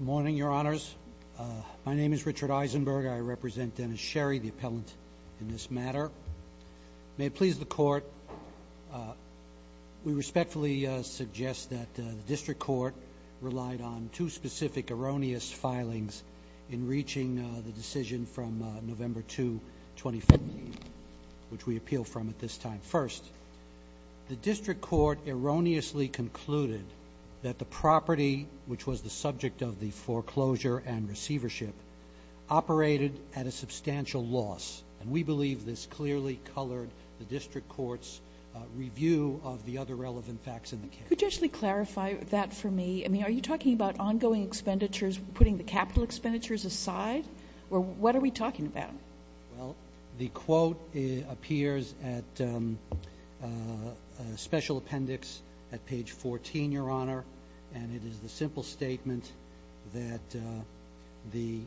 morning your honors my name is Richard Eisenberg I represent Dennis Sherry the appellant in this matter may please the court we respectfully suggest that the district court relied on two specific erroneous filings in reaching the decision from November 2 2015 which we appeal from at this time first the subject of the foreclosure and receivership operated at a substantial loss and we believe this clearly colored the district courts review of the other relevant facts in the case. Could you actually clarify that for me I mean are you talking about ongoing expenditures putting the capital expenditures aside or what are we talking about? The quote appears at special appendix at page 14 your honor and it is the simple statement that the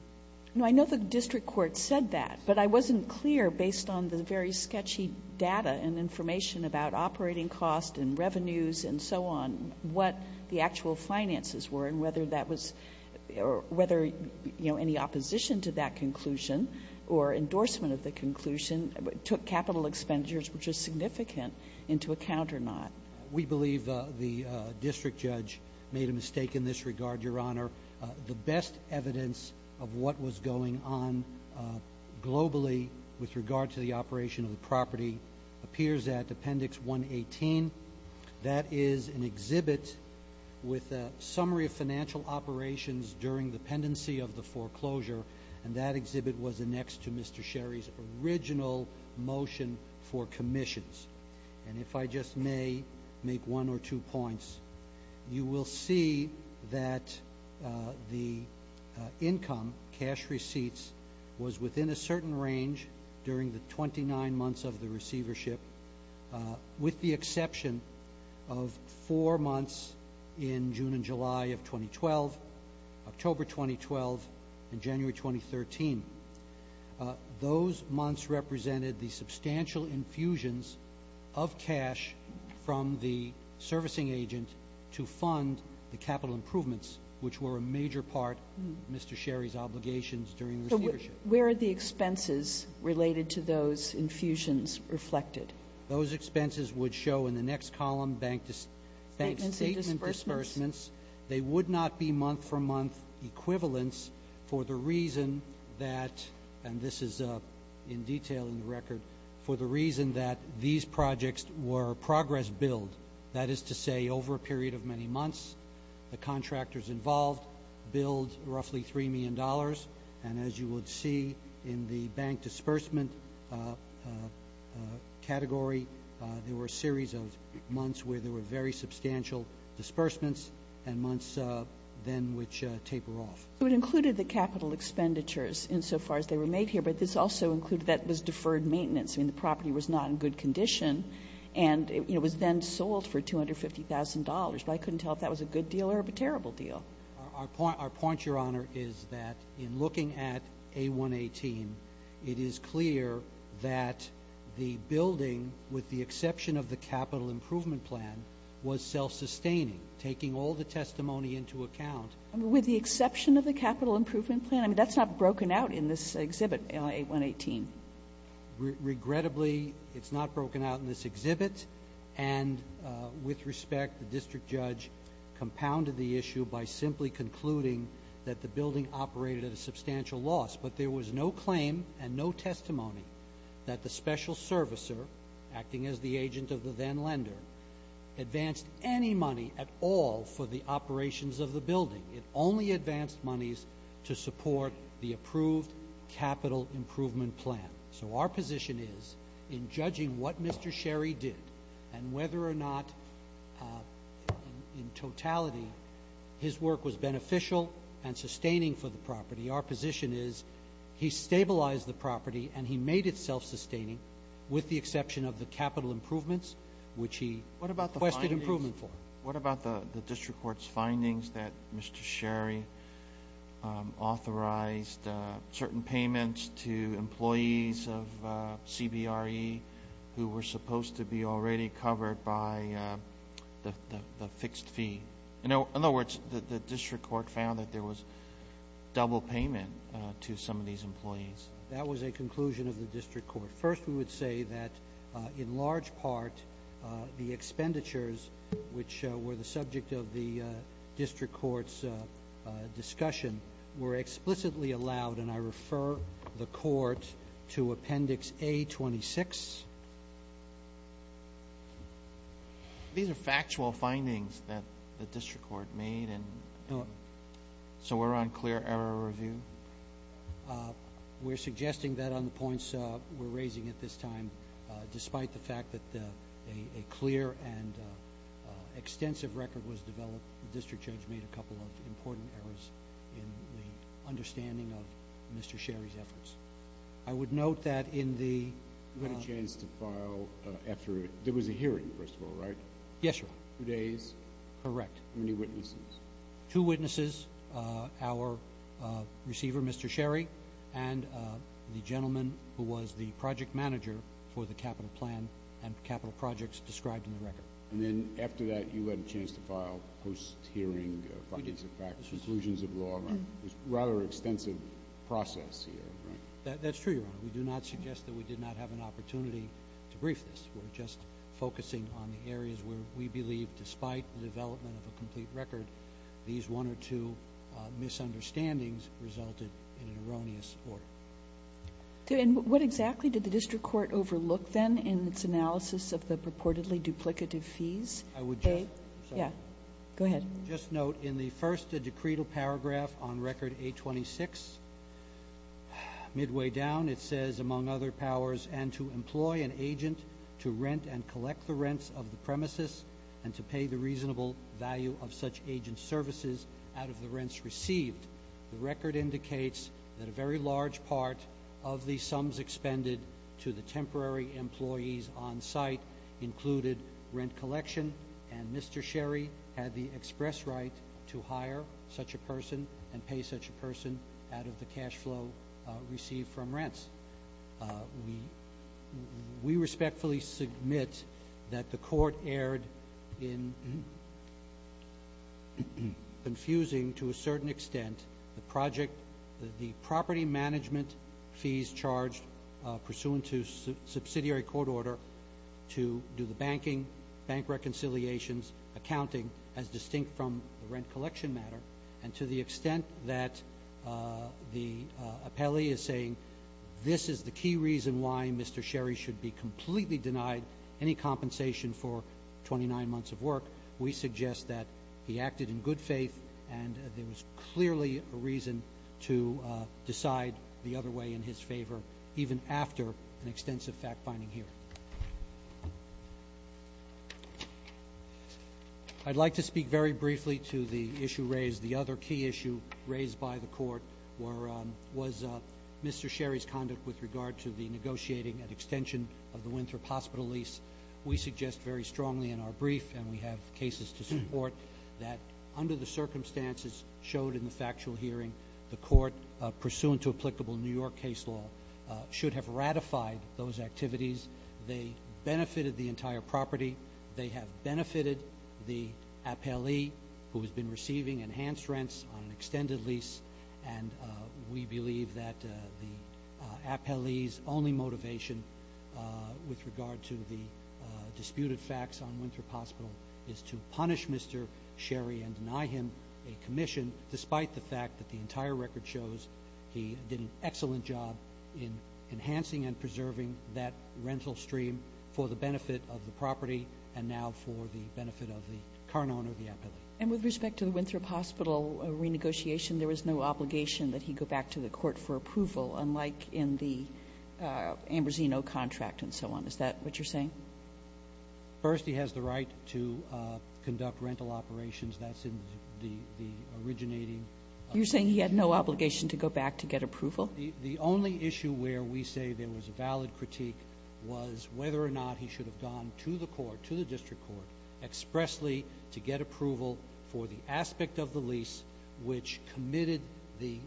I know the district court said that but I wasn't clear based on the very sketchy data and information about operating costs and revenues and so on what the actual finances were and whether that was or whether you know any opposition to that conclusion or endorsement of the conclusion took capital expenditures which is significant into account or not we believe the district judge made a mistake in this regard your honor the best evidence of what was going on globally with regard to the operation of the property appears at appendix 118 that is an exhibit with a summary of financial operations during the pendency of the foreclosure and that exhibit was next to Mr. Sherry's original motion for commissions and if I just may make one or two points you will see that the income cash receipts was within a certain range during the 29 months of the receivership with the exception of four months in June and July of 2012 October 2012 and January 2013 those months represented the substantial infusions of cash from the servicing agent to fund the capital improvements which were a major part of Mr. Sherry's obligations during the receivership. Where are the expenses related to those infusions reflected? Those expenses would show in the next column bank statement disbursements they would not be month-for-month equivalents for the reason that and this is a in detail in the record for the reason that these projects were progress billed that is to say over a period of many months the contractors involved billed roughly three million dollars and as you would see in the bank disbursement category there were a series of months where there were very substantial disbursements and months then which taper off. So it included the capital expenditures insofar as they were made here but this also included that was deferred maintenance and the property was not in good condition and it was then sold for two hundred fifty thousand dollars but I couldn't tell if that was a good deal or a terrible deal. Our point your at A118 it is clear that the building with the exception of the capital improvement plan was self-sustaining taking all the testimony into account with the exception of the capital improvement plan I mean that's not broken out in this exhibit A118. Regrettably it's not broken out in this exhibit and with respect the district judge compounded the issue by simply concluding that the building operated at a substantial loss but there was no claim and no testimony that the special servicer acting as the agent of the then lender advanced any money at all for the operations of the building it only advanced monies to support the approved capital improvement plan. So our position is in judging what Mr. Sherry did and whether or not in totality his work was beneficial and sustaining for the property our position is he stabilized the property and he made itself sustaining with the exception of the capital improvements which he requested improvement for. What about the district court's findings that Mr. Sherry authorized certain payments to employees of CBRE who were supposed to be already covered by the fixed fee. In fact the district court found that there was double payment to some of these employees. That was a conclusion of the district court. First we would say that in large part the expenditures which were the subject of the district court's discussion were explicitly allowed and I refer the court to appendix A26. These are factual findings that the district court made and so we're on clear error review? We're suggesting that on the points we're raising at this time despite the fact that a clear and extensive record was developed the district judge made a couple of important errors in the understanding of Mr. Sherry's efforts. I would note that in the... You had a chance to file after... There was a hearing first of all, right? Yes, Your Honor. Two days? Correct. How many witnesses? Two witnesses, our receiver Mr. Sherry and the gentleman who was the project manager for the capital plan and capital projects described in the record. And then after that you had a chance to file post-hearing findings of fact, conclusions of law. It was a rather extensive process here, right? That's true, Your Honor. We do not suggest that we did not have an opportunity to brief this. We're just focusing on the areas where we believe despite the development of a complete record these one or two misunderstandings resulted in an erroneous order. And what exactly did the district court overlook then in its analysis of the purportedly duplicative fees? I would just... Yeah, go ahead. Just note in the first a paragraph on record 826. Midway down it says, among other powers, and to employ an agent to rent and collect the rents of the premises and to pay the reasonable value of such agent services out of the rents received. The record indicates that a very large part of the sums expended to the temporary employees on site included rent collection and Mr. Sherry had the express right to hire such a person and pay such a person out of the cash flow received from rents. We respectfully submit that the court erred in confusing to a certain extent the project, the property management fees charged pursuant to subsidiary court order to do the banking, bank reconciliations, accounting as distinct from the rent collection matter, and to the extent that the appellee is saying this is the key reason why Mr. Sherry should be completely denied any compensation for 29 months of work, we suggest that he acted in good faith and there was clearly a reason to decide the other way in his favor even after an extensive fact-finding hearing. I'd like to speak very briefly to the issue raised, the other key issue raised by the court was Mr. Sherry's conduct with regard to the negotiating and extension of the Winthrop Hospital lease. We suggest very strongly in our brief and we have cases to support that under the circumstances showed in the factual hearing the court pursuant to applicable New York case law should have ratified those activities, they benefited the entire property, they have benefited the appellee who has been receiving enhanced rents on an extended lease and we believe that the appellee's only motivation with regard to the disputed facts on Winthrop Hospital is to punish Mr. Sherry and deny him a commission despite the fact that the entire record shows he did an excellent job in enhancing and preserving that rental stream for the benefit of the property and now for the benefit of the current owner of the appellee. And with respect to the Winthrop Hospital renegotiation there was no obligation that he go back to the court for approval unlike in the Ambrosino contract and so on, is that what you're saying? First he has the right to conduct rental operations that's in the originating. You're saying he had no obligation. The only issue where we say there was a valid critique was whether or not he should have gone to the court, to the district court expressly to get approval for the aspect of the lease which committed the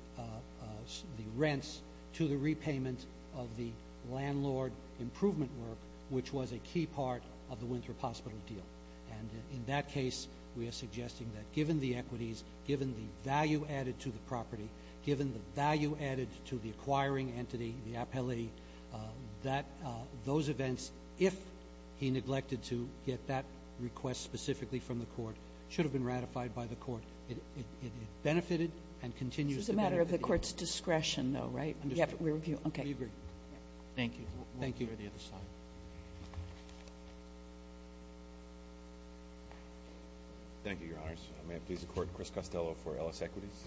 rents to the repayment of the landlord improvement work which was a key part of the Winthrop Hospital deal and in that case we are suggesting that given the equities, given the value added to the property, given the value added to the acquiring entity, the appellee, that those events if he neglected to get that request specifically from the court should have been ratified by the court. It benefited and continues to benefit. This is a matter of the court's discretion though right? We agree. Thank you. Thank you. Thank you, Your Honors. I may have pleased the court, Chris Costello for Ellis Equities.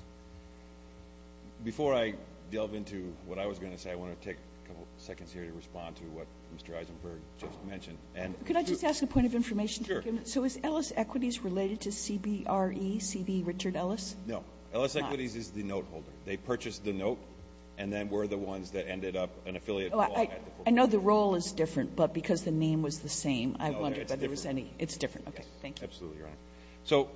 Before I delve into what I was going to say, I want to take a couple seconds here to respond to what Mr. Eisenberg just mentioned. Could I just ask a point of information? Sure. So is Ellis Equities related to CBRE, C.B. Richard Ellis? No. Ellis Equities is the note holder. They purchased the note and then were the ones that ended up an affiliate. I know the role is different but because the name was the same, I wonder if there was any, it's different. Okay, thank you. So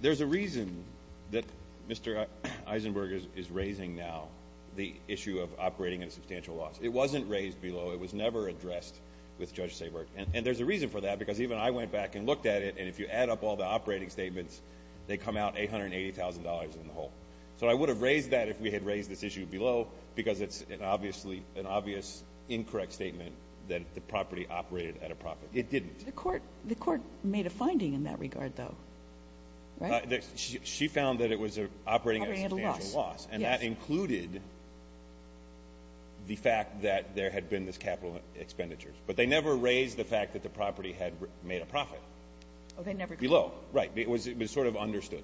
there's a reason that Mr. Eisenberg is raising now the issue of operating at a substantial loss. It wasn't raised below. It was never addressed with Judge Saborg and there's a reason for that because even I went back and looked at it and if you add up all the operating statements, they come out $880,000 in the hole. So I would have raised that if we had raised this issue below because it's an obviously an obvious incorrect statement that the property operated at a profit. It didn't. The court made a finding in that regard though, right? She found that it was operating at a loss and that included the fact that there had been this capital expenditures but they never raised the fact that the property had made a profit. Oh, they never did. Below. Right. It was sort of understood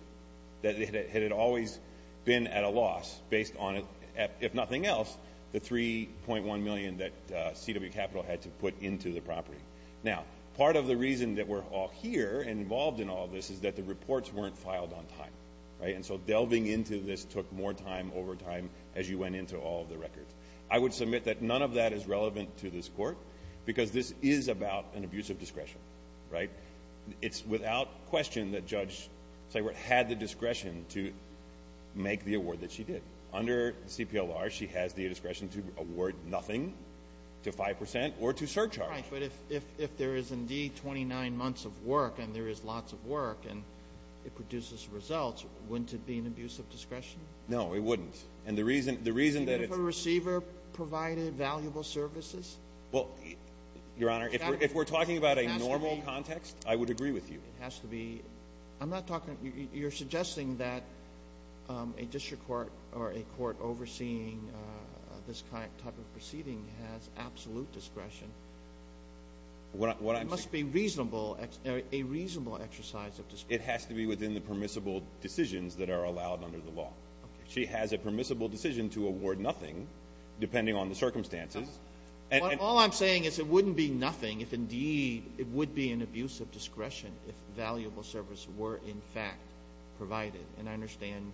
that it had always been at a loss based on it, if nothing else, the 3.1 million that CW Capital had to put into the property. Now, part of the reason that we're all here involved in all this is that the reports weren't filed on time, right? And so delving into this took more time over time as you went into all of the records. I would submit that none of that is relevant to this court because this is about an abuse of discretion, right? It's without question that Judge Saborg had the discretion to make the award that she did. Under CPLR, she has the discretion to award nothing to 5% or to if there is indeed 29 months of work and there is lots of work and it produces results, wouldn't it be an abuse of discretion? No, it wouldn't. And the reason the reason that it's a receiver provided valuable services. Well, Your Honor, if we're talking about a normal context, I would agree with you. It has to be. I'm not talking. You're suggesting that a district court or a what must be reasonable, a reasonable exercise of this. It has to be within the permissible decisions that are allowed under the law. She has a permissible decision to award nothing depending on the circumstances. All I'm saying is it wouldn't be nothing if indeed it would be an abuse of discretion if valuable service were in fact provided. And I understand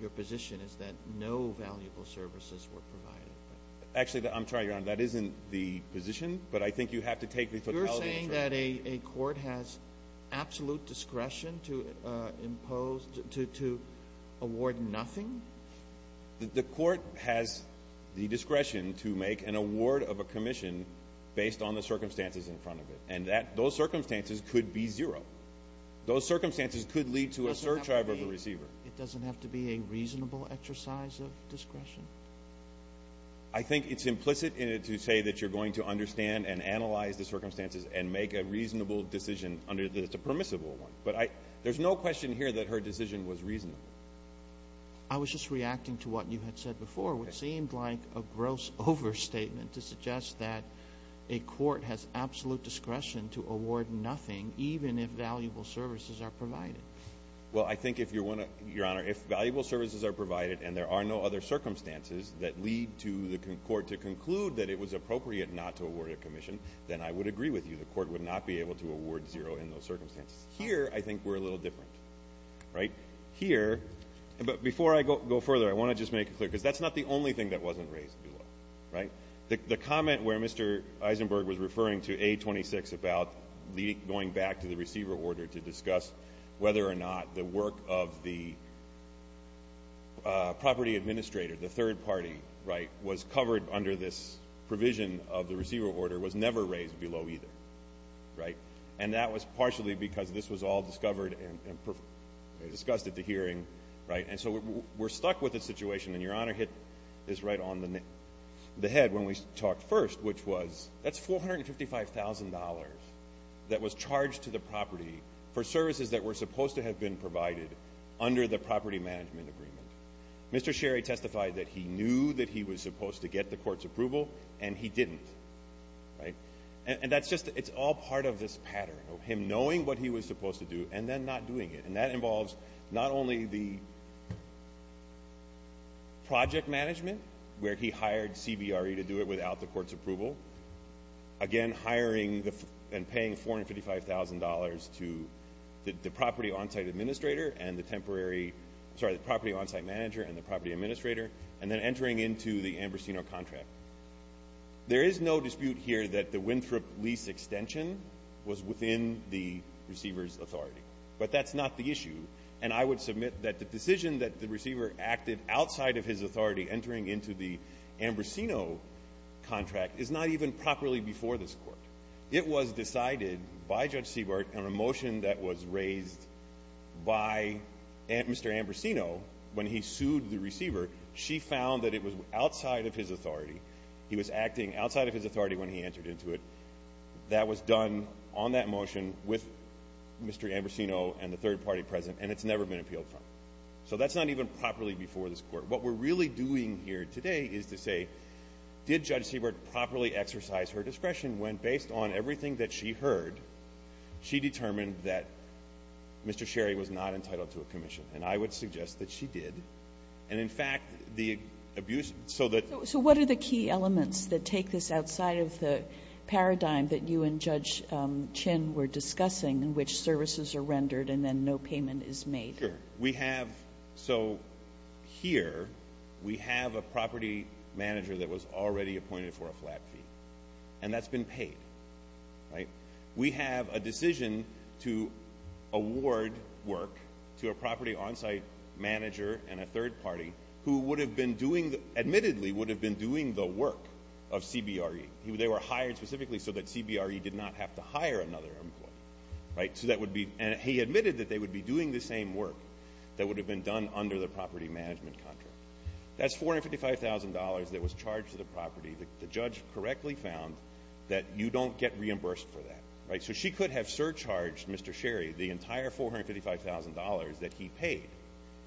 your position is that no valuable services were provided. Actually, I'm trying on that isn't the position, but I think you have to take the you're saying that a court has absolute discretion to imposed to award nothing. The court has the discretion to make an award of a commission based on the circumstances in front of it and that those circumstances could be zero. Those circumstances could lead to a search of a receiver. It doesn't have to be a reasonable exercise of discretion. I think it's implicit in it to say that you're going to understand and analyze the circumstances and make a reasonable decision under the permissible one. But there's no question here that her decision was reasonable. I was just reacting to what you had said before, what seemed like a gross overstatement to suggest that a court has absolute discretion to award nothing, even if valuable services are provided. Well, I provided and there are no other circumstances that lead to the court to conclude that it was appropriate not to award a commission, then I would agree with you. The court would not be able to award zero in those circumstances. Here, I think we're a little different, right here. But before I go further, I want to just make it clear, because that's not the only thing that wasn't raised below, right? The comment where Mr. Eisenberg was referring to a 26 about going back to the receiver order to discuss whether or not the work of the property administrator, the third party, right, was covered under this provision of the receiver order was never raised below either, right? And that was partially because this was all discovered and discussed at the hearing, right? And so we're stuck with the situation. And Your Honor hit this right on the head when we talked first, which was, that's $455,000 that was charged to the property for services that were supposed to have been provided under the property management agreement. Mr. Sherry testified that he knew that he was supposed to get the court's approval and he didn't, right? And that's just, it's all part of this pattern of him knowing what he was supposed to do and then not doing it. And that involves not only the project management, where he hired CBRE to do it without the court's approval, again hiring and paying $455,000 to the property on-site administrator and the temporary, sorry, the property on-site manager and the property administrator, and then entering into the Ambrosino contract. There is no dispute here that the Winthrop lease extension was within the receiver's authority, but that's not the issue. And I would submit that the decision that the receiver acted outside of his authority, entering into the Ambrosino contract, is not even properly before this court. It was decided by Judge Siebert on a motion that was raised by Mr. Ambrosino when he sued the receiver. She found that it was outside of his authority. He was acting outside of his authority when he entered into it. That was done on that motion with Mr. Ambrosino and the third party present, and it's never been appealed from. So that's not even properly before this court. What we're really doing here today is to say, did Judge Siebert properly exercise her discretion when, based on everything that she heard, she determined that Mr. Sherry was not entitled to a commission? And I would suggest that she did. And in fact, the abuse so that the So what are the key elements that take this outside of the paradigm that you and Judge Chin were discussing, in which services are rendered and then no payment is made? Sure. We have, so here, we have a property manager that was already appointed for a flat fee, and that's been paid. We have a decision to award work to a property on-site manager and a third party who would have been doing, admittedly, would have been doing the work of CBRE. They were hired specifically so that CBRE did not have to hire another employee. So that would be, and he admitted that they would be doing the same work that would have been done under the property management contract. That's $455,000 that was charged to the property. The judge correctly found that you don't get reimbursed for that, right? So she could have surcharged Mr. Sherry the entire $455,000 that he paid.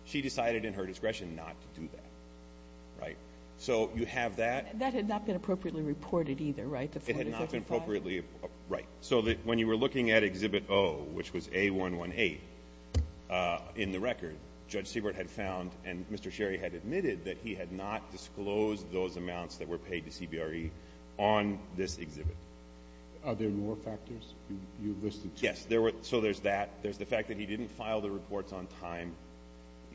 She decided in her discretion not to do that, right? So you have that. That had not been appropriately reported either, right? It had not been appropriately, right. So when you were looking at Exhibit O, which was A118 in the record, Judge Siebert had found, and Mr. Sherry had admitted that he had not disclosed those amounts that were paid to CBRE on this exhibit. Are there more factors you've listed? Yes, there were. So there's that. There's the fact that he didn't file the reports on time.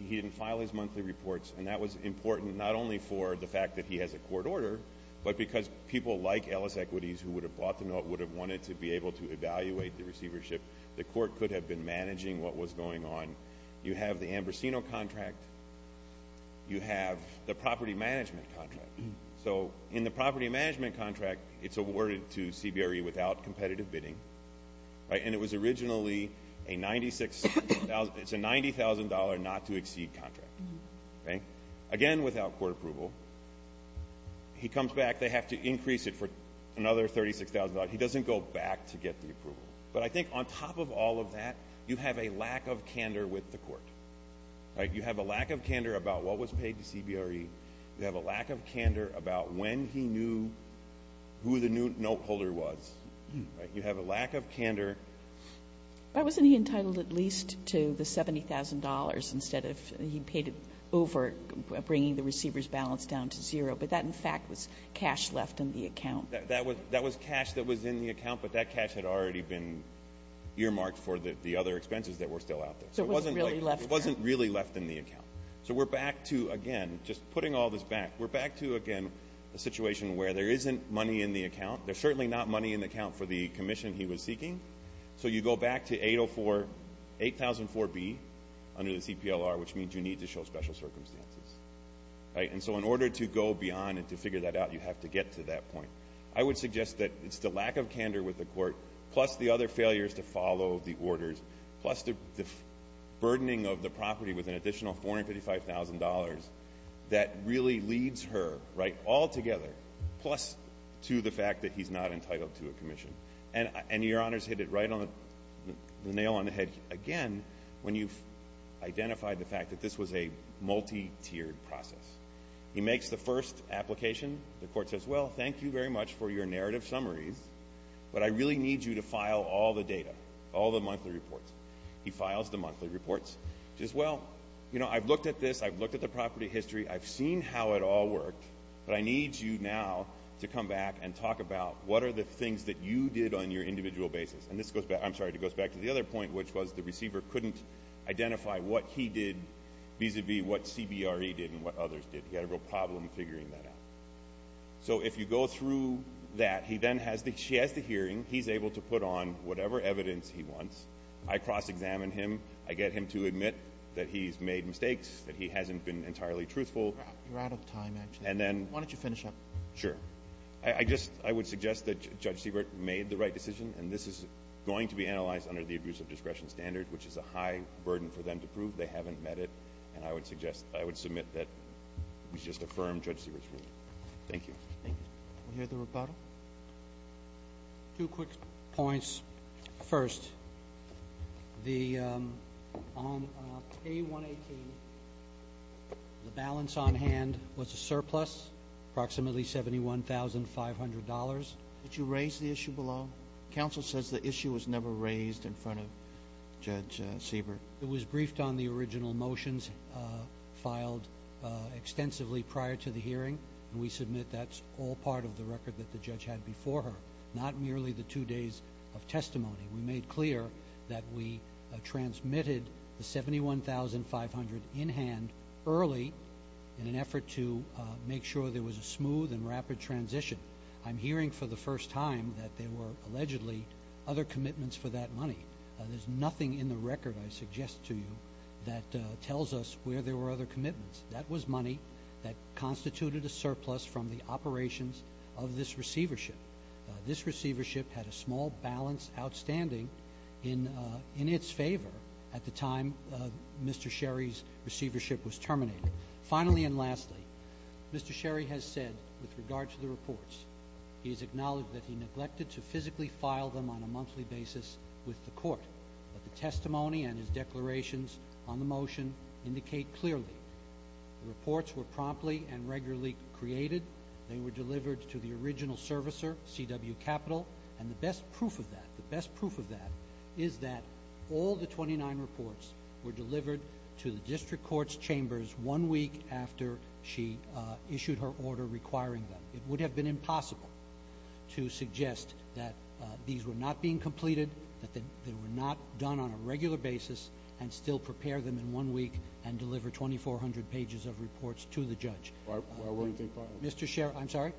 He didn't file his monthly reports, and that was important not only for the fact that he has a court order, but because people like Ellis Equities, who would have bought the note, would have wanted to be able to evaluate the receivership. The court could have been managing what was going on. You have the Ambrosino contract. You have the property management contract. So in the property management contract, it's awarded to CBRE without competitive bidding, right? And it was originally a $90,000 not to exceed contract, okay? Again, without court approval. He comes back. They have to increase it for another $36,000. He doesn't go back to get the approval. But I think on top of all of that, you have a lack of candor with the court, right? You have a lack of candor about what was paid to CBRE. You have a lack of candor about when he knew who the new note holder was, right? You have a lack of candor. But wasn't he entitled at least to the $70,000 instead of he paid it over, bringing the receiver's balance down to zero? But that, in fact, was cash left in the account. That was cash that was in the account, but that cash had already been earmarked for the other expenses that were still out there. So it wasn't really left in the account. So we're back to, again, just putting all this back, we're back to, again, a situation where there isn't money in the account. There's certainly not money in the account for the commission he was seeking. So you go back to 804B under the CPLR, which means you need to show special circumstances, right? And so in order to go beyond and to figure that out, you have to get to that point. I would suggest that it's the lack of candor with the court, plus the other failures to follow the orders, plus the burdening of the property with an additional $455,000 that really leads her, right, altogether, plus to the fact that he's not entitled to a commission. And your Honors hit it right on the nail on the fact that this was a multi-tiered process. He makes the first application. The court says, well, thank you very much for your narrative summaries, but I really need you to file all the data, all the monthly reports. He files the monthly reports. He says, well, you know, I've looked at this, I've looked at the property history, I've seen how it all worked, but I need you now to come back and talk about what are the things that you did on your individual basis. And this goes back, I'm sorry, it goes back to the other point, which was the receiver couldn't identify what he did vis-a-vis what CBRE did and what others did. He had a real problem figuring that out. So if you go through that, he then has the – she has the hearing, he's able to put on whatever evidence he wants. I cross-examine him. I get him to admit that he's made mistakes, that he hasn't been entirely truthful. You're out of time, actually. And then – Why don't you finish up? Sure. I just – I would suggest that Judge Siebert made the right decision, and this is going to be analyzed under the abuse of discretion standard, which is a high burden for them to prove. They haven't met it, and I would suggest – I would submit that we just affirm Judge Siebert's ruling. Thank you. Thank you. We'll hear the rebuttal. Two quick points. First, the – on K-118, the balance on hand was a surplus, approximately $71,500. Did you raise the issue below? Counsel says the issue was never raised in front of Judge Siebert. It was briefed on the original motions filed extensively prior to the hearing, and we submit that's all part of the record that the judge had before her, not merely the two days of testimony. We made clear that we transmitted the $71,500 in hand early in an effort to make sure there was a smooth and rapid transition. I'm hearing for the first time that there were allegedly other commitments for that money. There's nothing in the record, I suggest to you, that tells us where there were other commitments. That was money that constituted a surplus from the operations of this receivership. This receivership had a small balance outstanding in its favor at the time Mr. Sherry's receivership was terminated. Finally and lastly, Mr. Sherry has said, with regard to the reports, he has acknowledged that he neglected to physically file them on a monthly basis with the court, but the testimony and his declarations on the motion indicate clearly the reports were promptly and regularly created. They were delivered to the original servicer, C.W. Capitol, and the best proof of that – the best proof of that is that all the 29 reports were delivered to the district court's chambers one week after she issued her order requiring them. It would have been impossible to suggest that these were not being completed, that they were not done on a regular basis, and still prepare them in one week and deliver 2,400 pages of reports to the judge. I won't take files.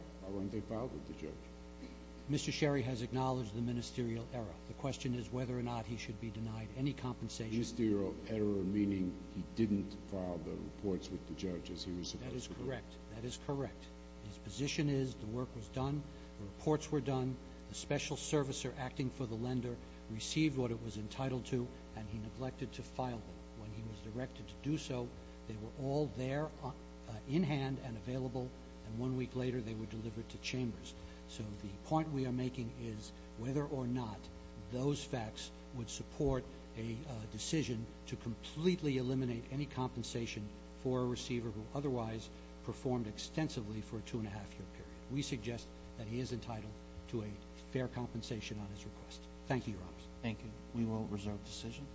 Mr. Sherry has acknowledged the ministerial error. The question is whether or not he should be denied any compensation. The ministerial error meaning he didn't file the reports with the judge as he was supposed to. That is correct. That is correct. His position is the work was done, the reports were done, the special servicer acting for the lender received what it was entitled to, and he neglected to file them. When he was directed to do so, they were all there in hand and available, and one week later they were delivered to chambers. So the point we are making is whether or not those facts would support a decision to completely eliminate any compensation for a receiver who otherwise performed extensively for a two-and-a-half-year period. We suggest that he is entitled to a fair compensation on his request. Thank you, Your Honor. Thank you. We will reserve decision.